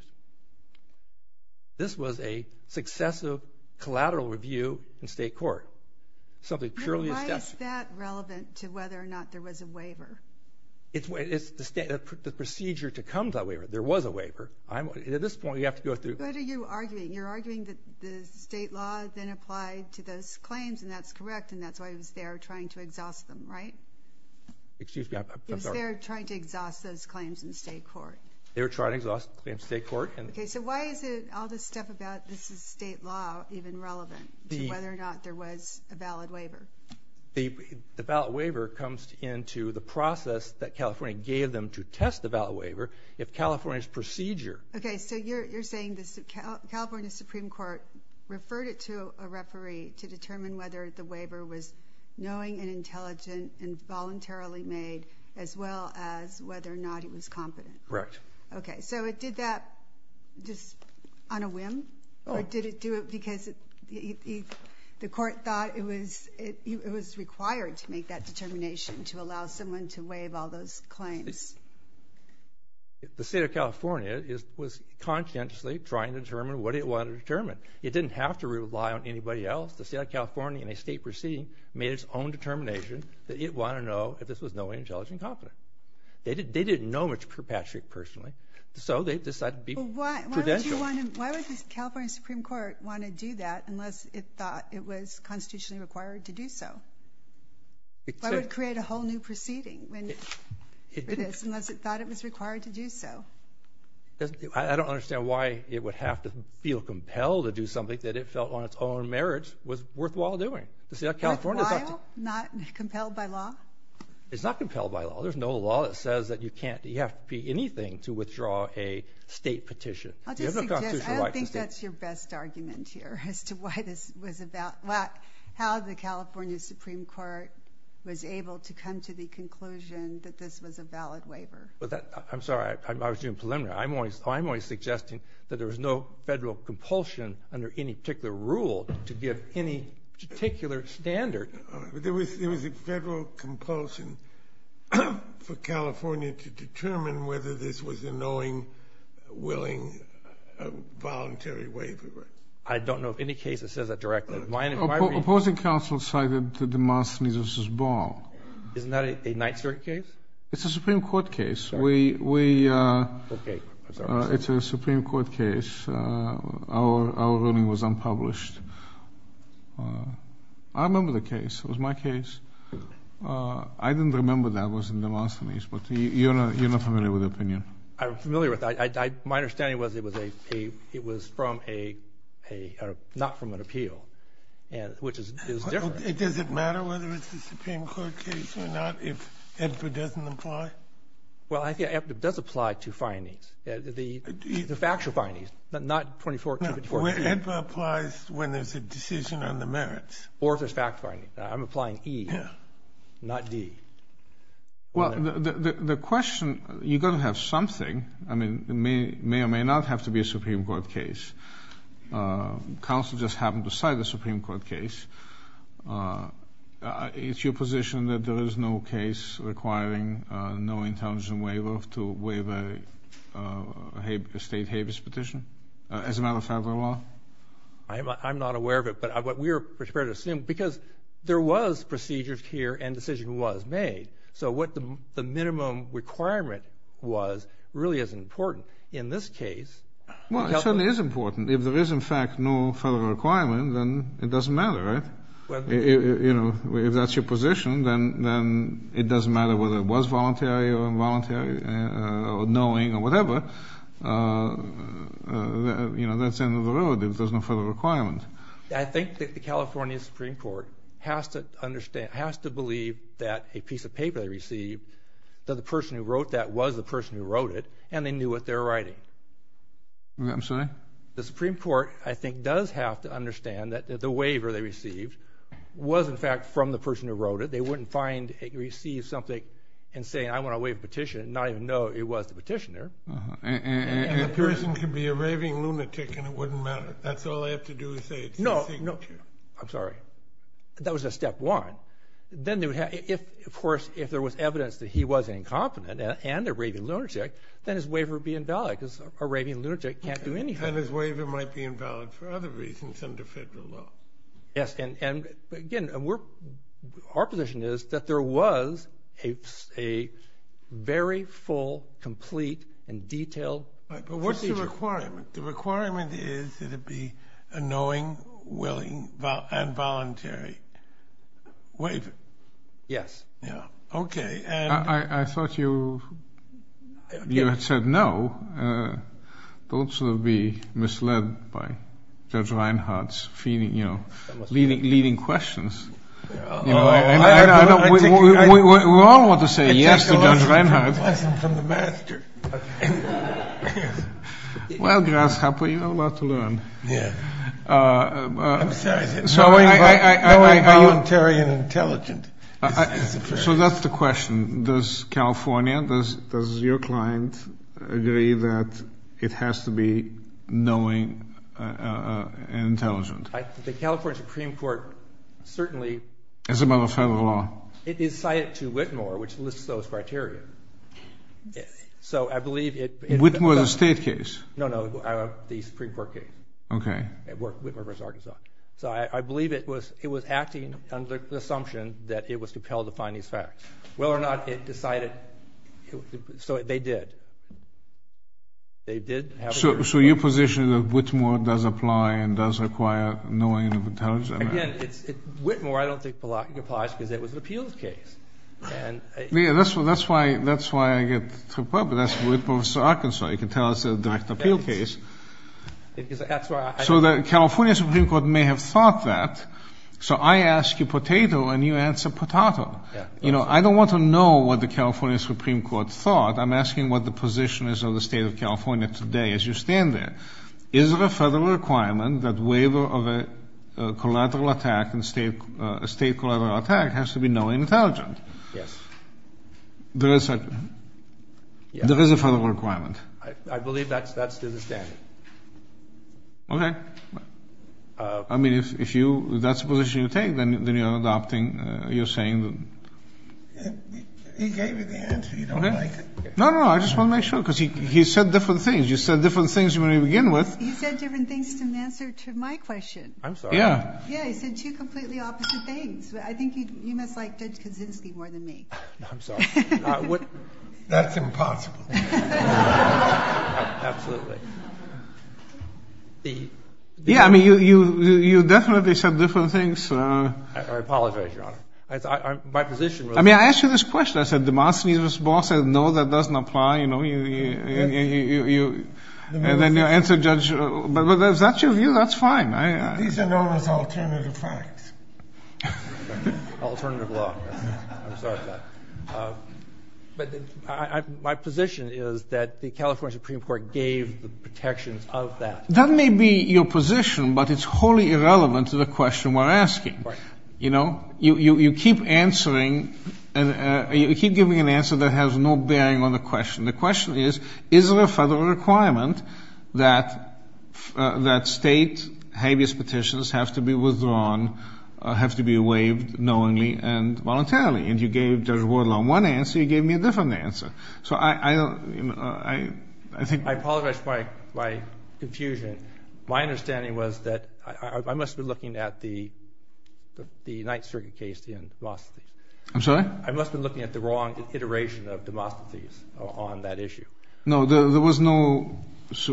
This was a successive collateral review in state court. Something purely... Why is that relevant to whether or not there was a waiver? It's the procedure to come to a waiver. There was a waiver. At this point, you have to go through... What are you arguing? You're arguing that the state law then applied to those claims, and that's correct, and that's why it was there trying to exhaust them, right? Excuse me, I'm sorry. It was there trying to exhaust those claims in state court. They were trying to exhaust the claims in state court. Okay, so why is all this stuff about this is state law even relevant to whether or not there was a valid waiver? The valid waiver comes into the process that California gave them to test the valid waiver if California's procedure... Okay, so you're saying the California Supreme Court referred it to a referee to determine whether the waiver was knowing and intelligent and voluntarily made, as well as whether or not it was competent. Correct. Okay, so it did that just on a whim? Or did it do it because the court thought it was required to make that determination to allow someone to waive all those claims? The state of California was conscientiously trying to determine what it wanted to determine. It didn't have to rely on anybody else. The state of California, in a state proceeding, made its own determination that it wanted to know if this was knowing, intelligent, and competent. They didn't know much for Patrick personally, so they decided to be prudential. Why would the California Supreme Court want to do that unless it thought it was constitutionally required to do so? Why would it create a whole new proceeding unless it thought it was required to do so? I don't understand why it would have to feel compelled to do something that it felt on its own merits was worthwhile doing. Worthwhile? Not compelled by law? It's not compelled by law. There's no law that says that you can't. You have to be anything to withdraw a state petition. I'll just suggest, I don't think that's your best argument here as to why this was about, how the California Supreme Court was able to come to the conclusion that this was a valid waiver. I'm sorry, I was doing preliminary. I'm only suggesting that there was no federal compulsion under any particular rule to give any particular standard. There was a federal compulsion for California to determine whether this was a knowing, willing, voluntary waiver. I don't know of any case that says that directly. Opposing counsel cited DeMoss v. Ball. Isn't that a night circuit case? It's a Supreme Court case. It's a Supreme Court case. Our ruling was unpublished. I remember the case. It was my case. I didn't remember that was in DeMoss v. Ball, but you're not familiar with the opinion. I'm familiar with it. My understanding was it was from a, not from an appeal, which is different. Does it matter whether it's a Supreme Court case or not if it doesn't apply? Well, I think it does apply to findings, the factual findings, but not 24-254-2. It applies when there's a decision on the merits. Or if there's fact-finding. I'm applying E, not D. Well, the question, you're going to have something. I mean, it may or may not have to be a Supreme Court case. Counsel just happened to cite a Supreme Court case. It's your position that there is no case requiring no intelligence waiver to waive a state habeas petition as a matter of federal law? I'm not aware of it, but we are prepared to assume, because there was procedures here and a decision was made. So what the minimum requirement was really isn't important. In this case... Well, it certainly is important. If there is, in fact, no federal requirement, then it doesn't matter, right? You know, if that's your position, then it doesn't matter whether it was voluntary or involuntary or knowing or whatever. You know, that's the end of the road if there's no federal requirement. I think that the California Supreme Court has to understand, has to believe that a piece of paper they received, that the person who wrote that was the person who wrote it, and they knew what they were writing. I'm sorry? The Supreme Court, I think, does have to understand that the waiver they received was, in fact, from the person who wrote it. They wouldn't find, receive something and say, I want to waive a petition and not even know it was the petitioner. And the person could be a raving lunatic and it wouldn't matter. That's all they have to do is say it's the Supreme Court. I'm sorry. That was a step one. Then, of course, if there was evidence that he was incompetent and a raving lunatic, then his waiver would be invalid, because a raving lunatic can't do anything. And his waiver might be invalid for other reasons under federal law. Yes, and again, our position is that there was a very full, complete, and detailed procedure. But what's the requirement? The requirement is that it be a knowing, willing, and voluntary waiver. Yes. Yeah. OK. I thought you had said no. Don't sort of be misled by Judge Reinhardt's leading questions. We all want to say yes to Judge Reinhardt. I take a lesson from the master. Well, Grasshopper, you have a lot to learn. Yeah. I'm sorry. I'm a voluntary and intelligent. So that's the question. Does California, does your client agree that it has to be knowing and intelligent? The California Supreme Court certainly... It's about a federal law. It is cited to Whitmore, which lists those criteria. So I believe it... Whitmore is a state case. No, no, the Supreme Court case. OK. So I believe it was acting under the assumption that it was compelled to find these facts. Whether or not it decided... So they did. They did have... So your position is that Whitmore does apply and does require knowing and intelligence? Again, it's... Whitmore, I don't think applies because it was an appeals case. And... Yeah, that's why I get... That's with Professor Arkansas. You can tell it's a direct appeal case. So the California Supreme Court may have thought that. So I ask you potato and you answer potato. You know, I don't want to know what the California Supreme Court thought. I'm asking what the position is of the state of California today as you stand there. Is it a federal requirement that waiver of a collateral attack and state... A state collateral attack has to be knowing and intelligent? Yes. There is a... There is a federal requirement. I believe that's to the standard. OK. I mean, if you... Then you're adopting... You're saying... He gave you the answer. You don't like it? No, no, I just want to make sure. Because he said different things. You said different things when you begin with. He said different things to answer to my question. I'm sorry. Yeah. Yeah, he said two completely opposite things. I think you must like Judge Kaczynski more than me. I'm sorry. That's impossible. Absolutely. Yeah, I mean, you definitely said different things. I apologize, Your Honor. My position was... I mean, I asked you this question. I said, DeMoss needs a response. I said, no, that doesn't apply. You know, you... And then you answer Judge... But is that your view? That's fine. These are known as alternative facts. Alternative law. I'm sorry about that. But my position is that the California Supreme Court gave the protections of that. That may be your position, but it's wholly irrelevant to the question we're asking. You know, you keep answering and you keep giving an answer that has no bearing on the question. The question is, is it a federal requirement that state habeas petitions have to be withdrawn, have to be waived knowingly and voluntarily? And you gave Judge Wardlaw one answer. You gave me a different answer. So I think... I apologize for my confusion. My understanding was that I must have been looking at the Ninth Circuit case and DeMoss. I'm sorry? I must have been looking at the wrong iteration of DeMoss on that issue. No, there was no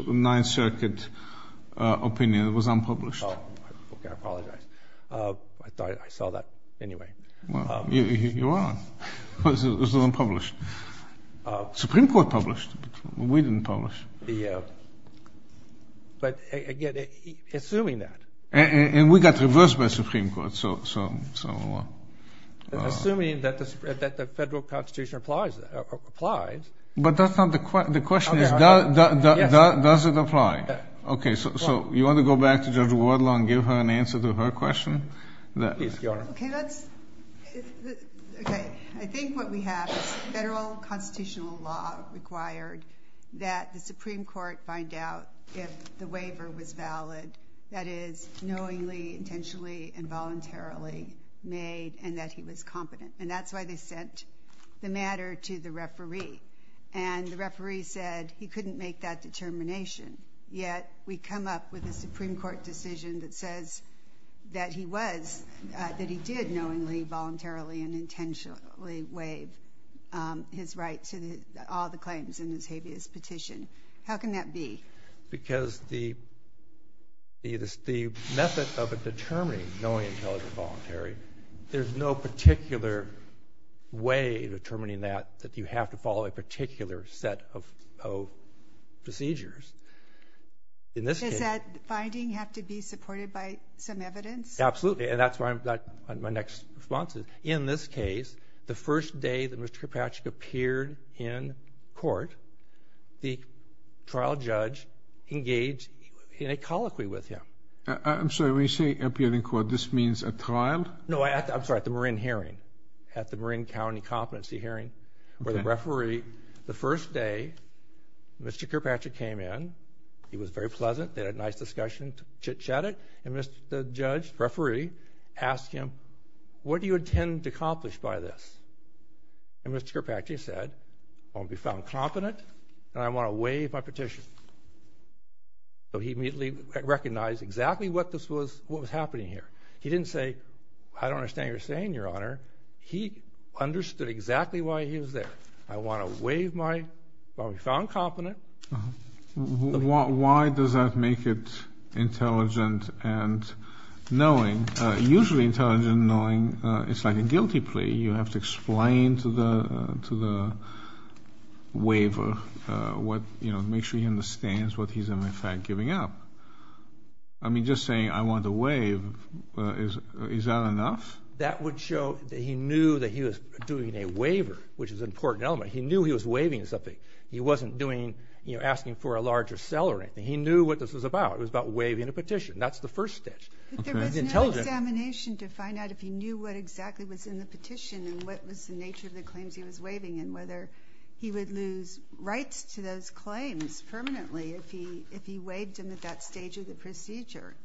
Ninth Circuit opinion. It was unpublished. Oh, okay. I apologize. I thought I saw that anyway. Well, you are. It was unpublished. Supreme Court published, but we didn't publish. Yeah. But again, assuming that... And we got reversed by the Supreme Court. So... Assuming that the federal constitution applies... But that's not the question. The question is, does it apply? Okay. So you want to go back to Judge Wardlaw and give her an answer to her question? Please, Your Honor. Okay. I think what we have is federal constitutional law required that the Supreme Court find out if the waiver was valid. That is, knowingly, intentionally, and voluntarily made, and that he was competent. And that's why they sent the matter to the referee. And the referee said he couldn't make that determination. Yet we come up with a Supreme Court decision that says that he was... Waived his right to all the claims in this habeas petition. How can that be? Because the method of determining knowingly, intentionally, and voluntarily, there's no particular way of determining that, that you have to follow a particular set of procedures. In this case... Does that finding have to be supported by some evidence? Absolutely. And that's where my next response is. In this case, the first day that Mr. Kirkpatrick appeared in court, the trial judge engaged in a colloquy with him. I'm sorry, when you say appeared in court, this means at trial? No, I'm sorry, at the Marin hearing, at the Marin County competency hearing, where the referee, the first day Mr. Kirkpatrick came in, he was very pleasant. They had a nice discussion, chitchatted. And Mr. Judge, the referee, asked him, what do you intend to accomplish by this? And Mr. Kirkpatrick said, I want to be found competent, and I want to waive my petition. So he immediately recognized exactly what was happening here. He didn't say, I don't understand what you're saying, Your Honor. He understood exactly why he was there. I want to waive my... I want to be found competent. Why does that make it intelligent and knowing? Usually intelligent and knowing, it's like a guilty plea. You have to explain to the waiver, make sure he understands what he's in fact giving up. I mean, just saying, I want to waive, is that enough? That would show that he knew that he was doing a waiver, which is an important element. He knew he was waiving something. He wasn't asking for a larger cell or anything. He knew what this was about. It was about waiving a petition. That's the first step. But there was no examination to find out if he knew what exactly was in the petition and what was the nature of the claims he was waiving and whether he would lose rights to those claims permanently if he waived them at that stage of the procedure.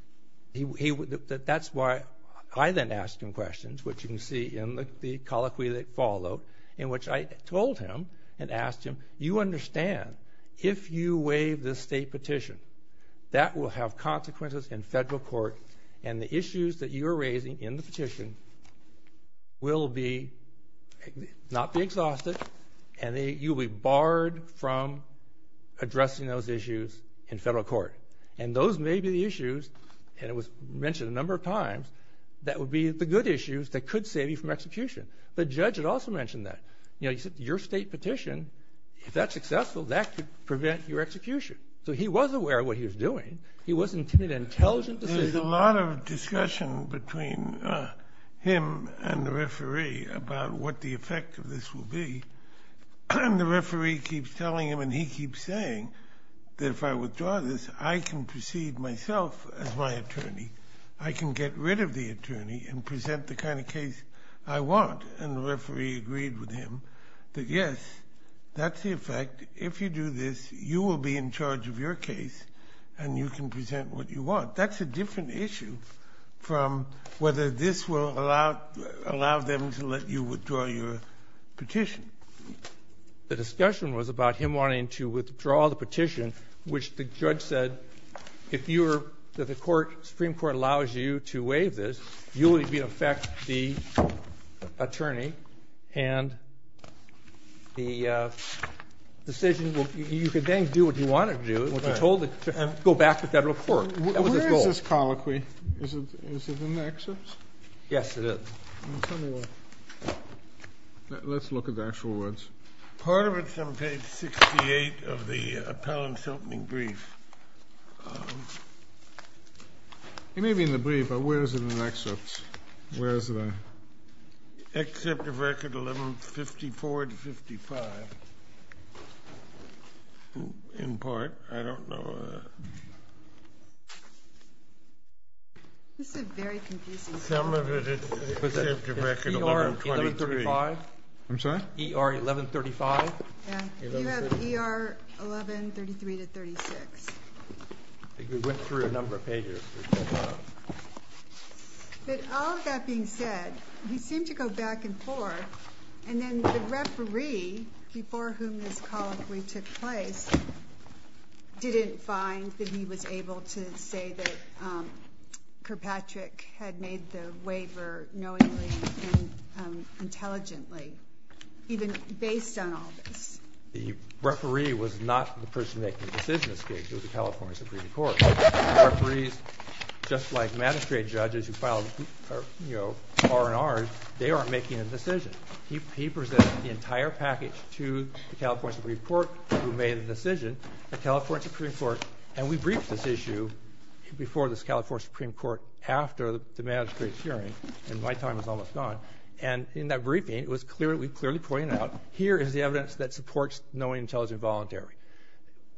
That's why I then asked him questions, which you can see in the colloquy that followed, in which I told him and asked him, you understand, if you waive this state petition, that will have consequences in federal court and the issues that you're raising in the petition will not be exhausted and you'll be barred from addressing those issues in federal court. And those may be the issues, and it was mentioned a number of times, that would be the good issues that could save you from execution. The judge had also mentioned that. You know, he said, your state petition, if that's successful, that could prevent your execution. So he was aware of what he was doing. He wasn't making an intelligent decision. There's a lot of discussion between him and the referee about what the effect of this will be. And the referee keeps telling him and he keeps saying that if I withdraw this, I can proceed myself as my attorney. I can get rid of the attorney and present the kind of case I want. And the referee agreed with him that, yes, that's the effect. If you do this, you will be in charge of your case and you can present what you want. That's a different issue from whether this will allow them to let you withdraw your petition. The discussion was about him wanting to withdraw the petition, which the judge said, if the Supreme Court allows you to waive this, you will be in effect the attorney. And the decision, you can then do what you want to do, what you're told, and go back to federal court. That was his goal. Where is this colloquy? Is it in the excerpts? Yes, it is. Let's look at the actual words. Part of it's on page 68 of the appellant's opening brief. It may be in the brief, but where is it in the excerpts? Where is it on? Excerpt of record 1154 to 55. In part. I don't know. This is a very confusing part. Some of it is excerpt of record 1123. I'm sorry? ER 1135. You have ER 1133 to 36. I think we went through a number of pages. But all of that being said, he seemed to go back and forth. And then the referee, before whom this colloquy took place, didn't find that he was able to say that Kirkpatrick had made the waiver knowingly and intelligently, even based on all this. The referee was not the person making the decision. It was the California Supreme Court. Referees, just like magistrate judges who file R&Rs, they aren't making a decision. He presented the entire package to the California Supreme Court, who made the decision, the California Supreme Court. And we briefed this issue before the California Supreme Court, after the magistrate's hearing. And my time is almost gone. And in that briefing, it was clearly pointed out, here is the evidence that supports knowingly, intelligently, and voluntarily.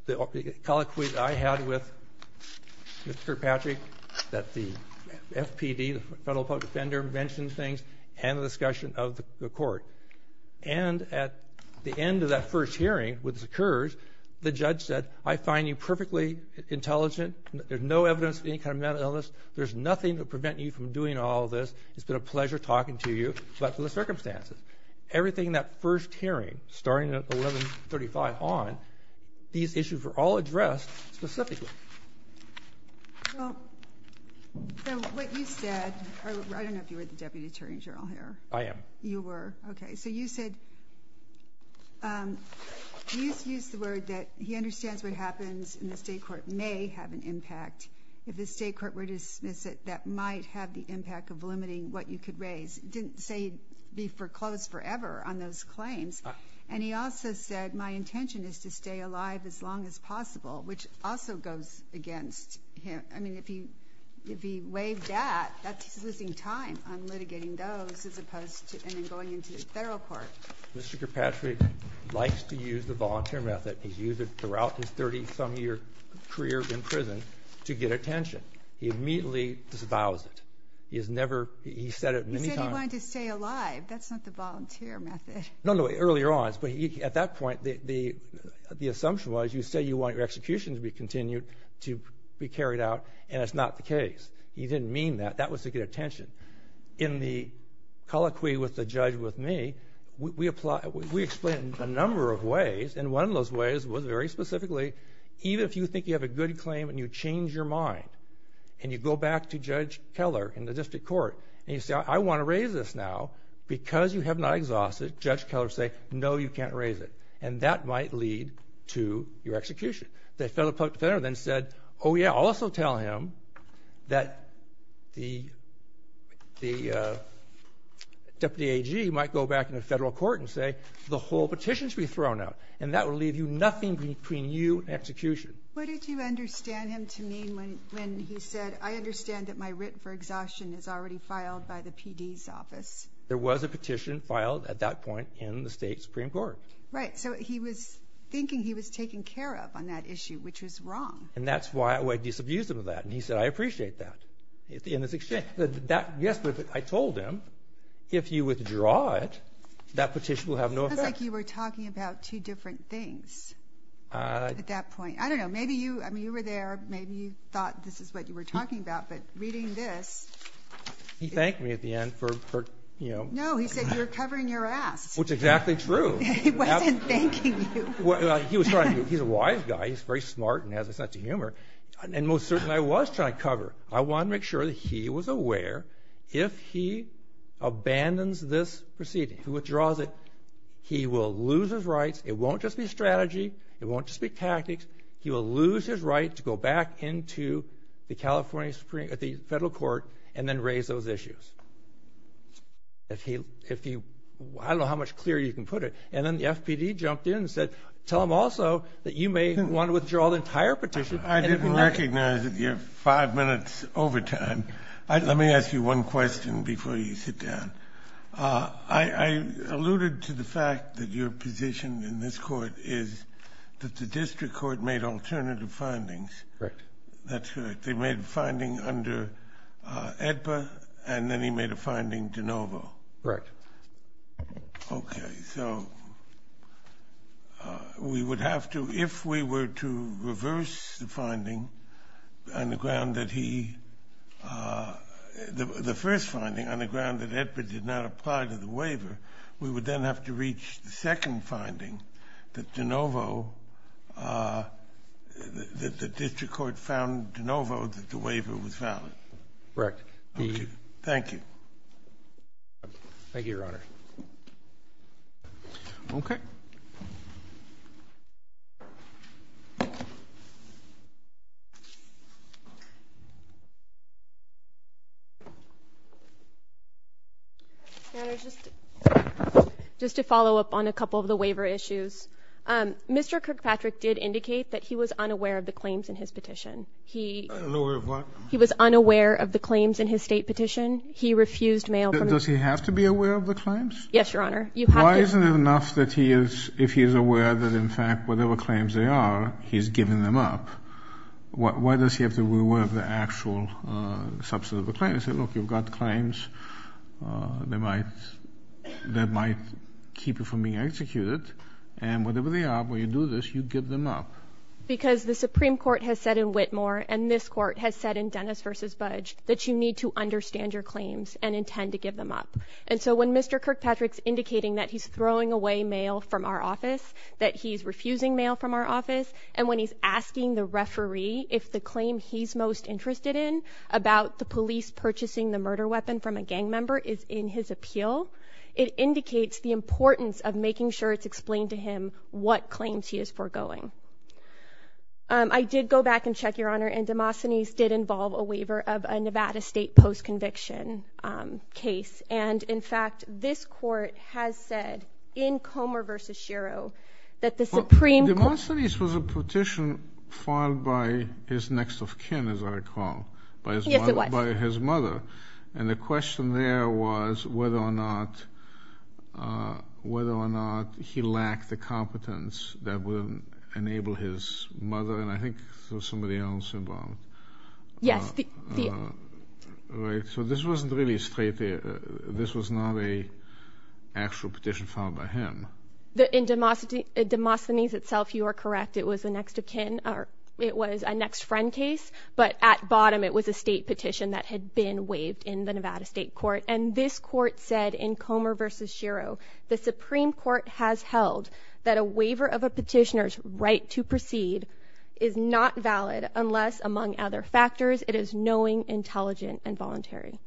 The colloquy that I had with Mr. Kirkpatrick, that the FPD, the Federal Public Defender, mentioned things, and the discussion of the court. And at the end of that first hearing, which occurs, the judge said, I find you perfectly intelligent. There's no evidence of any kind of mental illness. There's nothing to prevent you from doing all this. It's been a pleasure talking to you. But for the circumstances, everything in that first hearing, starting at 1135 on, these issues were all addressed specifically. Well, so what you said, I don't know if you were the Deputy Attorney General here. I am. You were. OK, so you said, you used the word that he understands what happens in the state court may have an impact. If the state court were to dismiss it, that might have the impact of limiting what you could raise. It didn't say you'd be foreclosed forever on those claims. And he also said, my intention is to stay alive as long as possible, which also goes against him. I mean, if he waived that, that's losing time on litigating those, as opposed to going into the federal court. Mr. Kirkpatrick likes to use the volunteer method. He's used it throughout his 30-some-year career in prison to get attention. He immediately disavows it. He has never, he said it many times. He said he wanted to stay alive. That's not the volunteer method. No, no, earlier on, but at that point, the assumption was, you say you want your execution to be continued, to be carried out, and it's not the case. He didn't mean that. That was to get attention. In the colloquy with the judge with me, we explained a number of ways. And one of those ways was very specifically, even if you think you have a good claim, and you change your mind, and you go back to Judge Keller in the district court, and you say, I want to raise this now, because you have not exhausted, Judge Keller would say, no, you can't raise it. And that might lead to your execution. The federal public defender then said, oh, yeah, I'll also tell him that the deputy AG might go back in the federal court and say, the whole petition should be thrown out. And that will leave you nothing between you and execution. What did you understand him to mean when he said, I understand that my writ for exhaustion is already filed by the PD's office? There was a petition filed at that point in the state Supreme Court. Right, so he was thinking he was taken care of on that issue, which was wrong. And that's why I disabused him of that. And he said, I appreciate that, in this exchange. Yes, but I told him, if you withdraw it, that petition will have no effect. It sounds like you were talking about two different things at that point. I don't know. Maybe you were there. Maybe you thought this is what you were talking about. But reading this. He thanked me at the end for, you know. No, he said, you're covering your ass. Which is exactly true. He wasn't thanking you. He's a wise guy. He's very smart and has a sense of humor. And most certainly, I was trying to cover. I wanted to make sure that he was aware, if he abandons this proceeding, withdraws it, he will lose his rights. It won't just be strategy. It won't just be tactics. He will lose his right to go back into the California Supreme, the federal court, and then raise those issues. If he, if he, I don't know how much clearer you can put it. And then the FPD jumped in and said, tell him also that you may want to withdraw the entire petition. I didn't recognize that you're five minutes over time. Let me ask you one question before you sit down. Uh, I, I alluded to the fact that your position in this court is that the district court made alternative findings. Correct. That's correct. They made a finding under, uh, EDPA and then he made a finding to Novo. Correct. Okay. So, uh, we would have to, if we were to reverse the finding on the ground that he, uh, the, the first finding on the ground that EDPA did not apply to the waiver, we would then have to reach the second finding that to Novo, uh, that the district court found to Novo that the waiver was valid. Correct. Okay. Thank you. Thank you, your honor. Okay. Your honor, just, just to follow up on a couple of the waiver issues, um, Mr. Kirkpatrick did indicate that he was unaware of the claims in his petition. He, he was unaware of the claims in his state petition. He refused mail. Does he have to be aware of the claims? Yes, your honor. Why isn't it enough that he is, if he is aware that in fact, whatever claims they are, he's given them up. Why does he have to be aware of the actual, uh, substance of a claim? I said, look, you've got claims, uh, that might, that might keep you from being executed and whatever they are, when you do this, you give them up. Because the Supreme court has said in Whitmore and this court has said in Dennis versus Budge that you need to understand your claims and intend to give them up. And so when Mr. Kirkpatrick's indicating that he's throwing away mail from our office, that he's refusing mail from our office. And when he's asking the referee, if the claim he's most interested in about the police purchasing the murder weapon from a gang member is in his appeal, it indicates the importance of making sure it's explained to him what claims he is foregoing. Um, I did go back and check your honor and Demosthenes did involve a waiver of a Nevada state post conviction, um, case. And in fact, this court has said in Comer versus Shiro that the Supreme court... Demosthenes was a petition filed by his next of kin, as I recall, by his mother. And the question there was whether or not, uh, whether or not he lacked the competence that would enable his mother. And I think there was somebody else involved. Yes. The, uh, right. So this wasn't really straight. This was not a actual petition filed by him. The, in Demosthenes itself, you are correct. It was the next of kin, or it was a next friend case. But at bottom, it was a state petition that had been waived in the Nevada state court. And this court said in Comer versus Shiro, the Supreme court has held that a waiver of knowing intelligent and voluntary.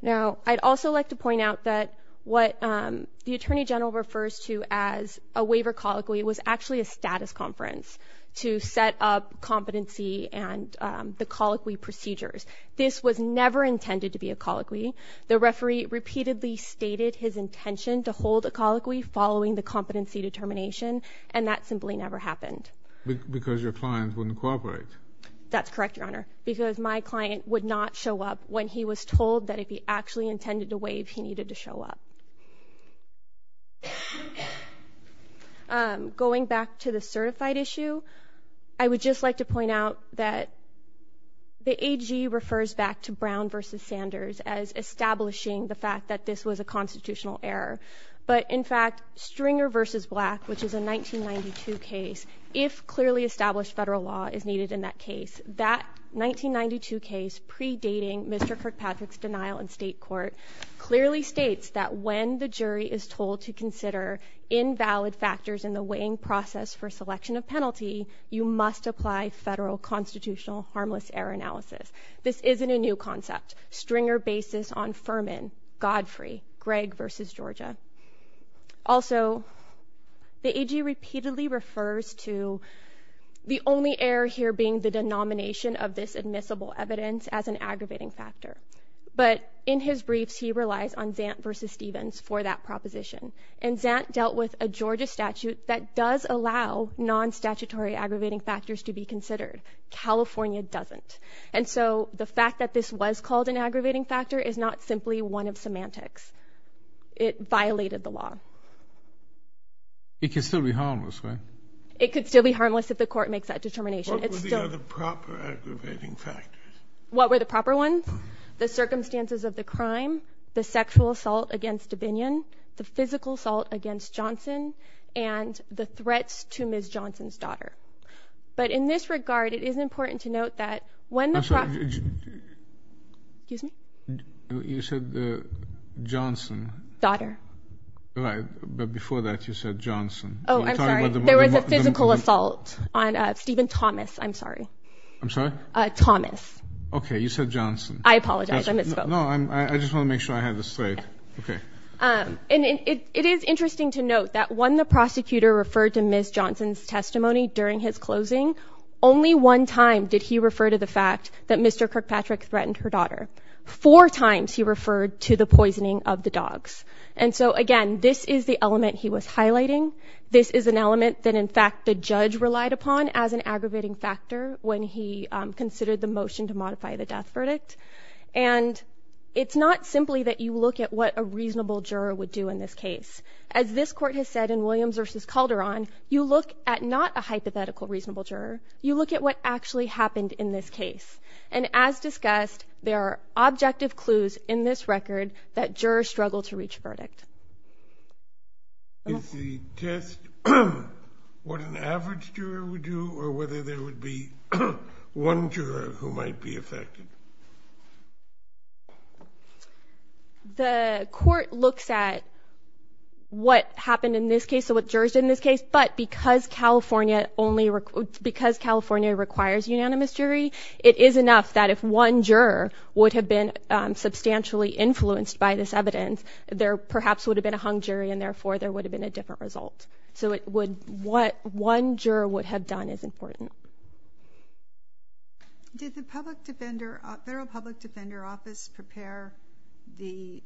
Now, I'd also like to point out that what, um, the attorney general refers to as a waiver colloquy was actually a status conference to set up competency and, um, the colloquy procedures. This was never intended to be a colloquy. The referee repeatedly stated his intention to hold a colloquy following the competency determination. And that simply never happened. Because your clients wouldn't cooperate. That's correct, your honor. Because my client would not show up when he was told that if he actually intended to waive, he needed to show up. Um, going back to the certified issue, I would just like to point out that the AG refers back to Brown versus Sanders as establishing the fact that this was a constitutional error. But in fact, stringer versus black, which is a 1992 case, if clearly established federal law is needed in that case, that 1992 case predating Mr. Kirkpatrick's denial in state court clearly states that when the jury is told to consider invalid factors in the weighing process for selection of penalty, you must apply federal constitutional harmless error analysis. This isn't a new concept stringer basis on Furman, Godfrey, Greg versus Georgia. Also, the AG repeatedly refers to the only error here being the denomination of this admissible evidence as an aggravating factor. But in his briefs, he relies on Zant versus Stevens for that proposition. And Zant dealt with a Georgia statute that does allow non statutory aggravating factors to be considered. California doesn't. And so the fact that this was called an aggravating factor is not simply one of semantics. It violated the law. It could still be harmless, right? It could still be harmless if the court makes that determination. It's still the proper aggravating factors. What were the proper ones? The circumstances of the crime, the sexual assault against Dominion, the physical assault against Johnson and the threats to Ms. Johnson's daughter. But in this regard, it is important to note that when the. Excuse me, you said the Johnson daughter. Right. But before that, you said Johnson. Oh, I'm sorry. There was a physical assault on Stephen Thomas. I'm sorry. I'm sorry. Thomas. OK, you said Johnson. I apologize. I misspoke. No, I just want to make sure I have this right. OK. And it is interesting to note that when the prosecutor referred to Ms. Johnson's testimony during his closing, only one time did he refer to the fact that Mr. Kirkpatrick threatened her daughter. Four times he referred to the poisoning of the dogs. And so, again, this is the element he was highlighting. This is an element that, in fact, the judge relied upon as an aggravating factor when he considered the motion to modify the death verdict. And it's not simply that you look at what a reasonable juror would do in this case. As this court has said in Williams v. Calderon, you look at not a hypothetical reasonable juror. You look at what actually happened in this case. And as discussed, there are objective clues in this record that jurors struggle to reach a verdict. Is the test what an average juror would do or whether there would be one juror who might be affected? The court looks at what happened in this case, so what jurors did in this case. But because California requires unanimous jury, it is enough that if one juror would have been substantially influenced by this evidence, there perhaps would have been a hung jury and, therefore, there would have been a different result. So what one juror would have done is important. Did the Federal Public Defender Office prepare the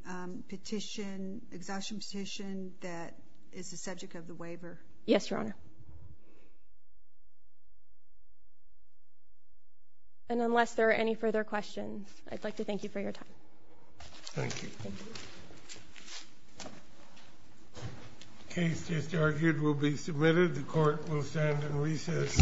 exhaustion petition that is the subject of the waiver? Yes, Your Honor. And unless there are any further questions, I'd like to thank you for your time. Thank you. The case just argued will be submitted. The court will stand and recess. The court is adjourned.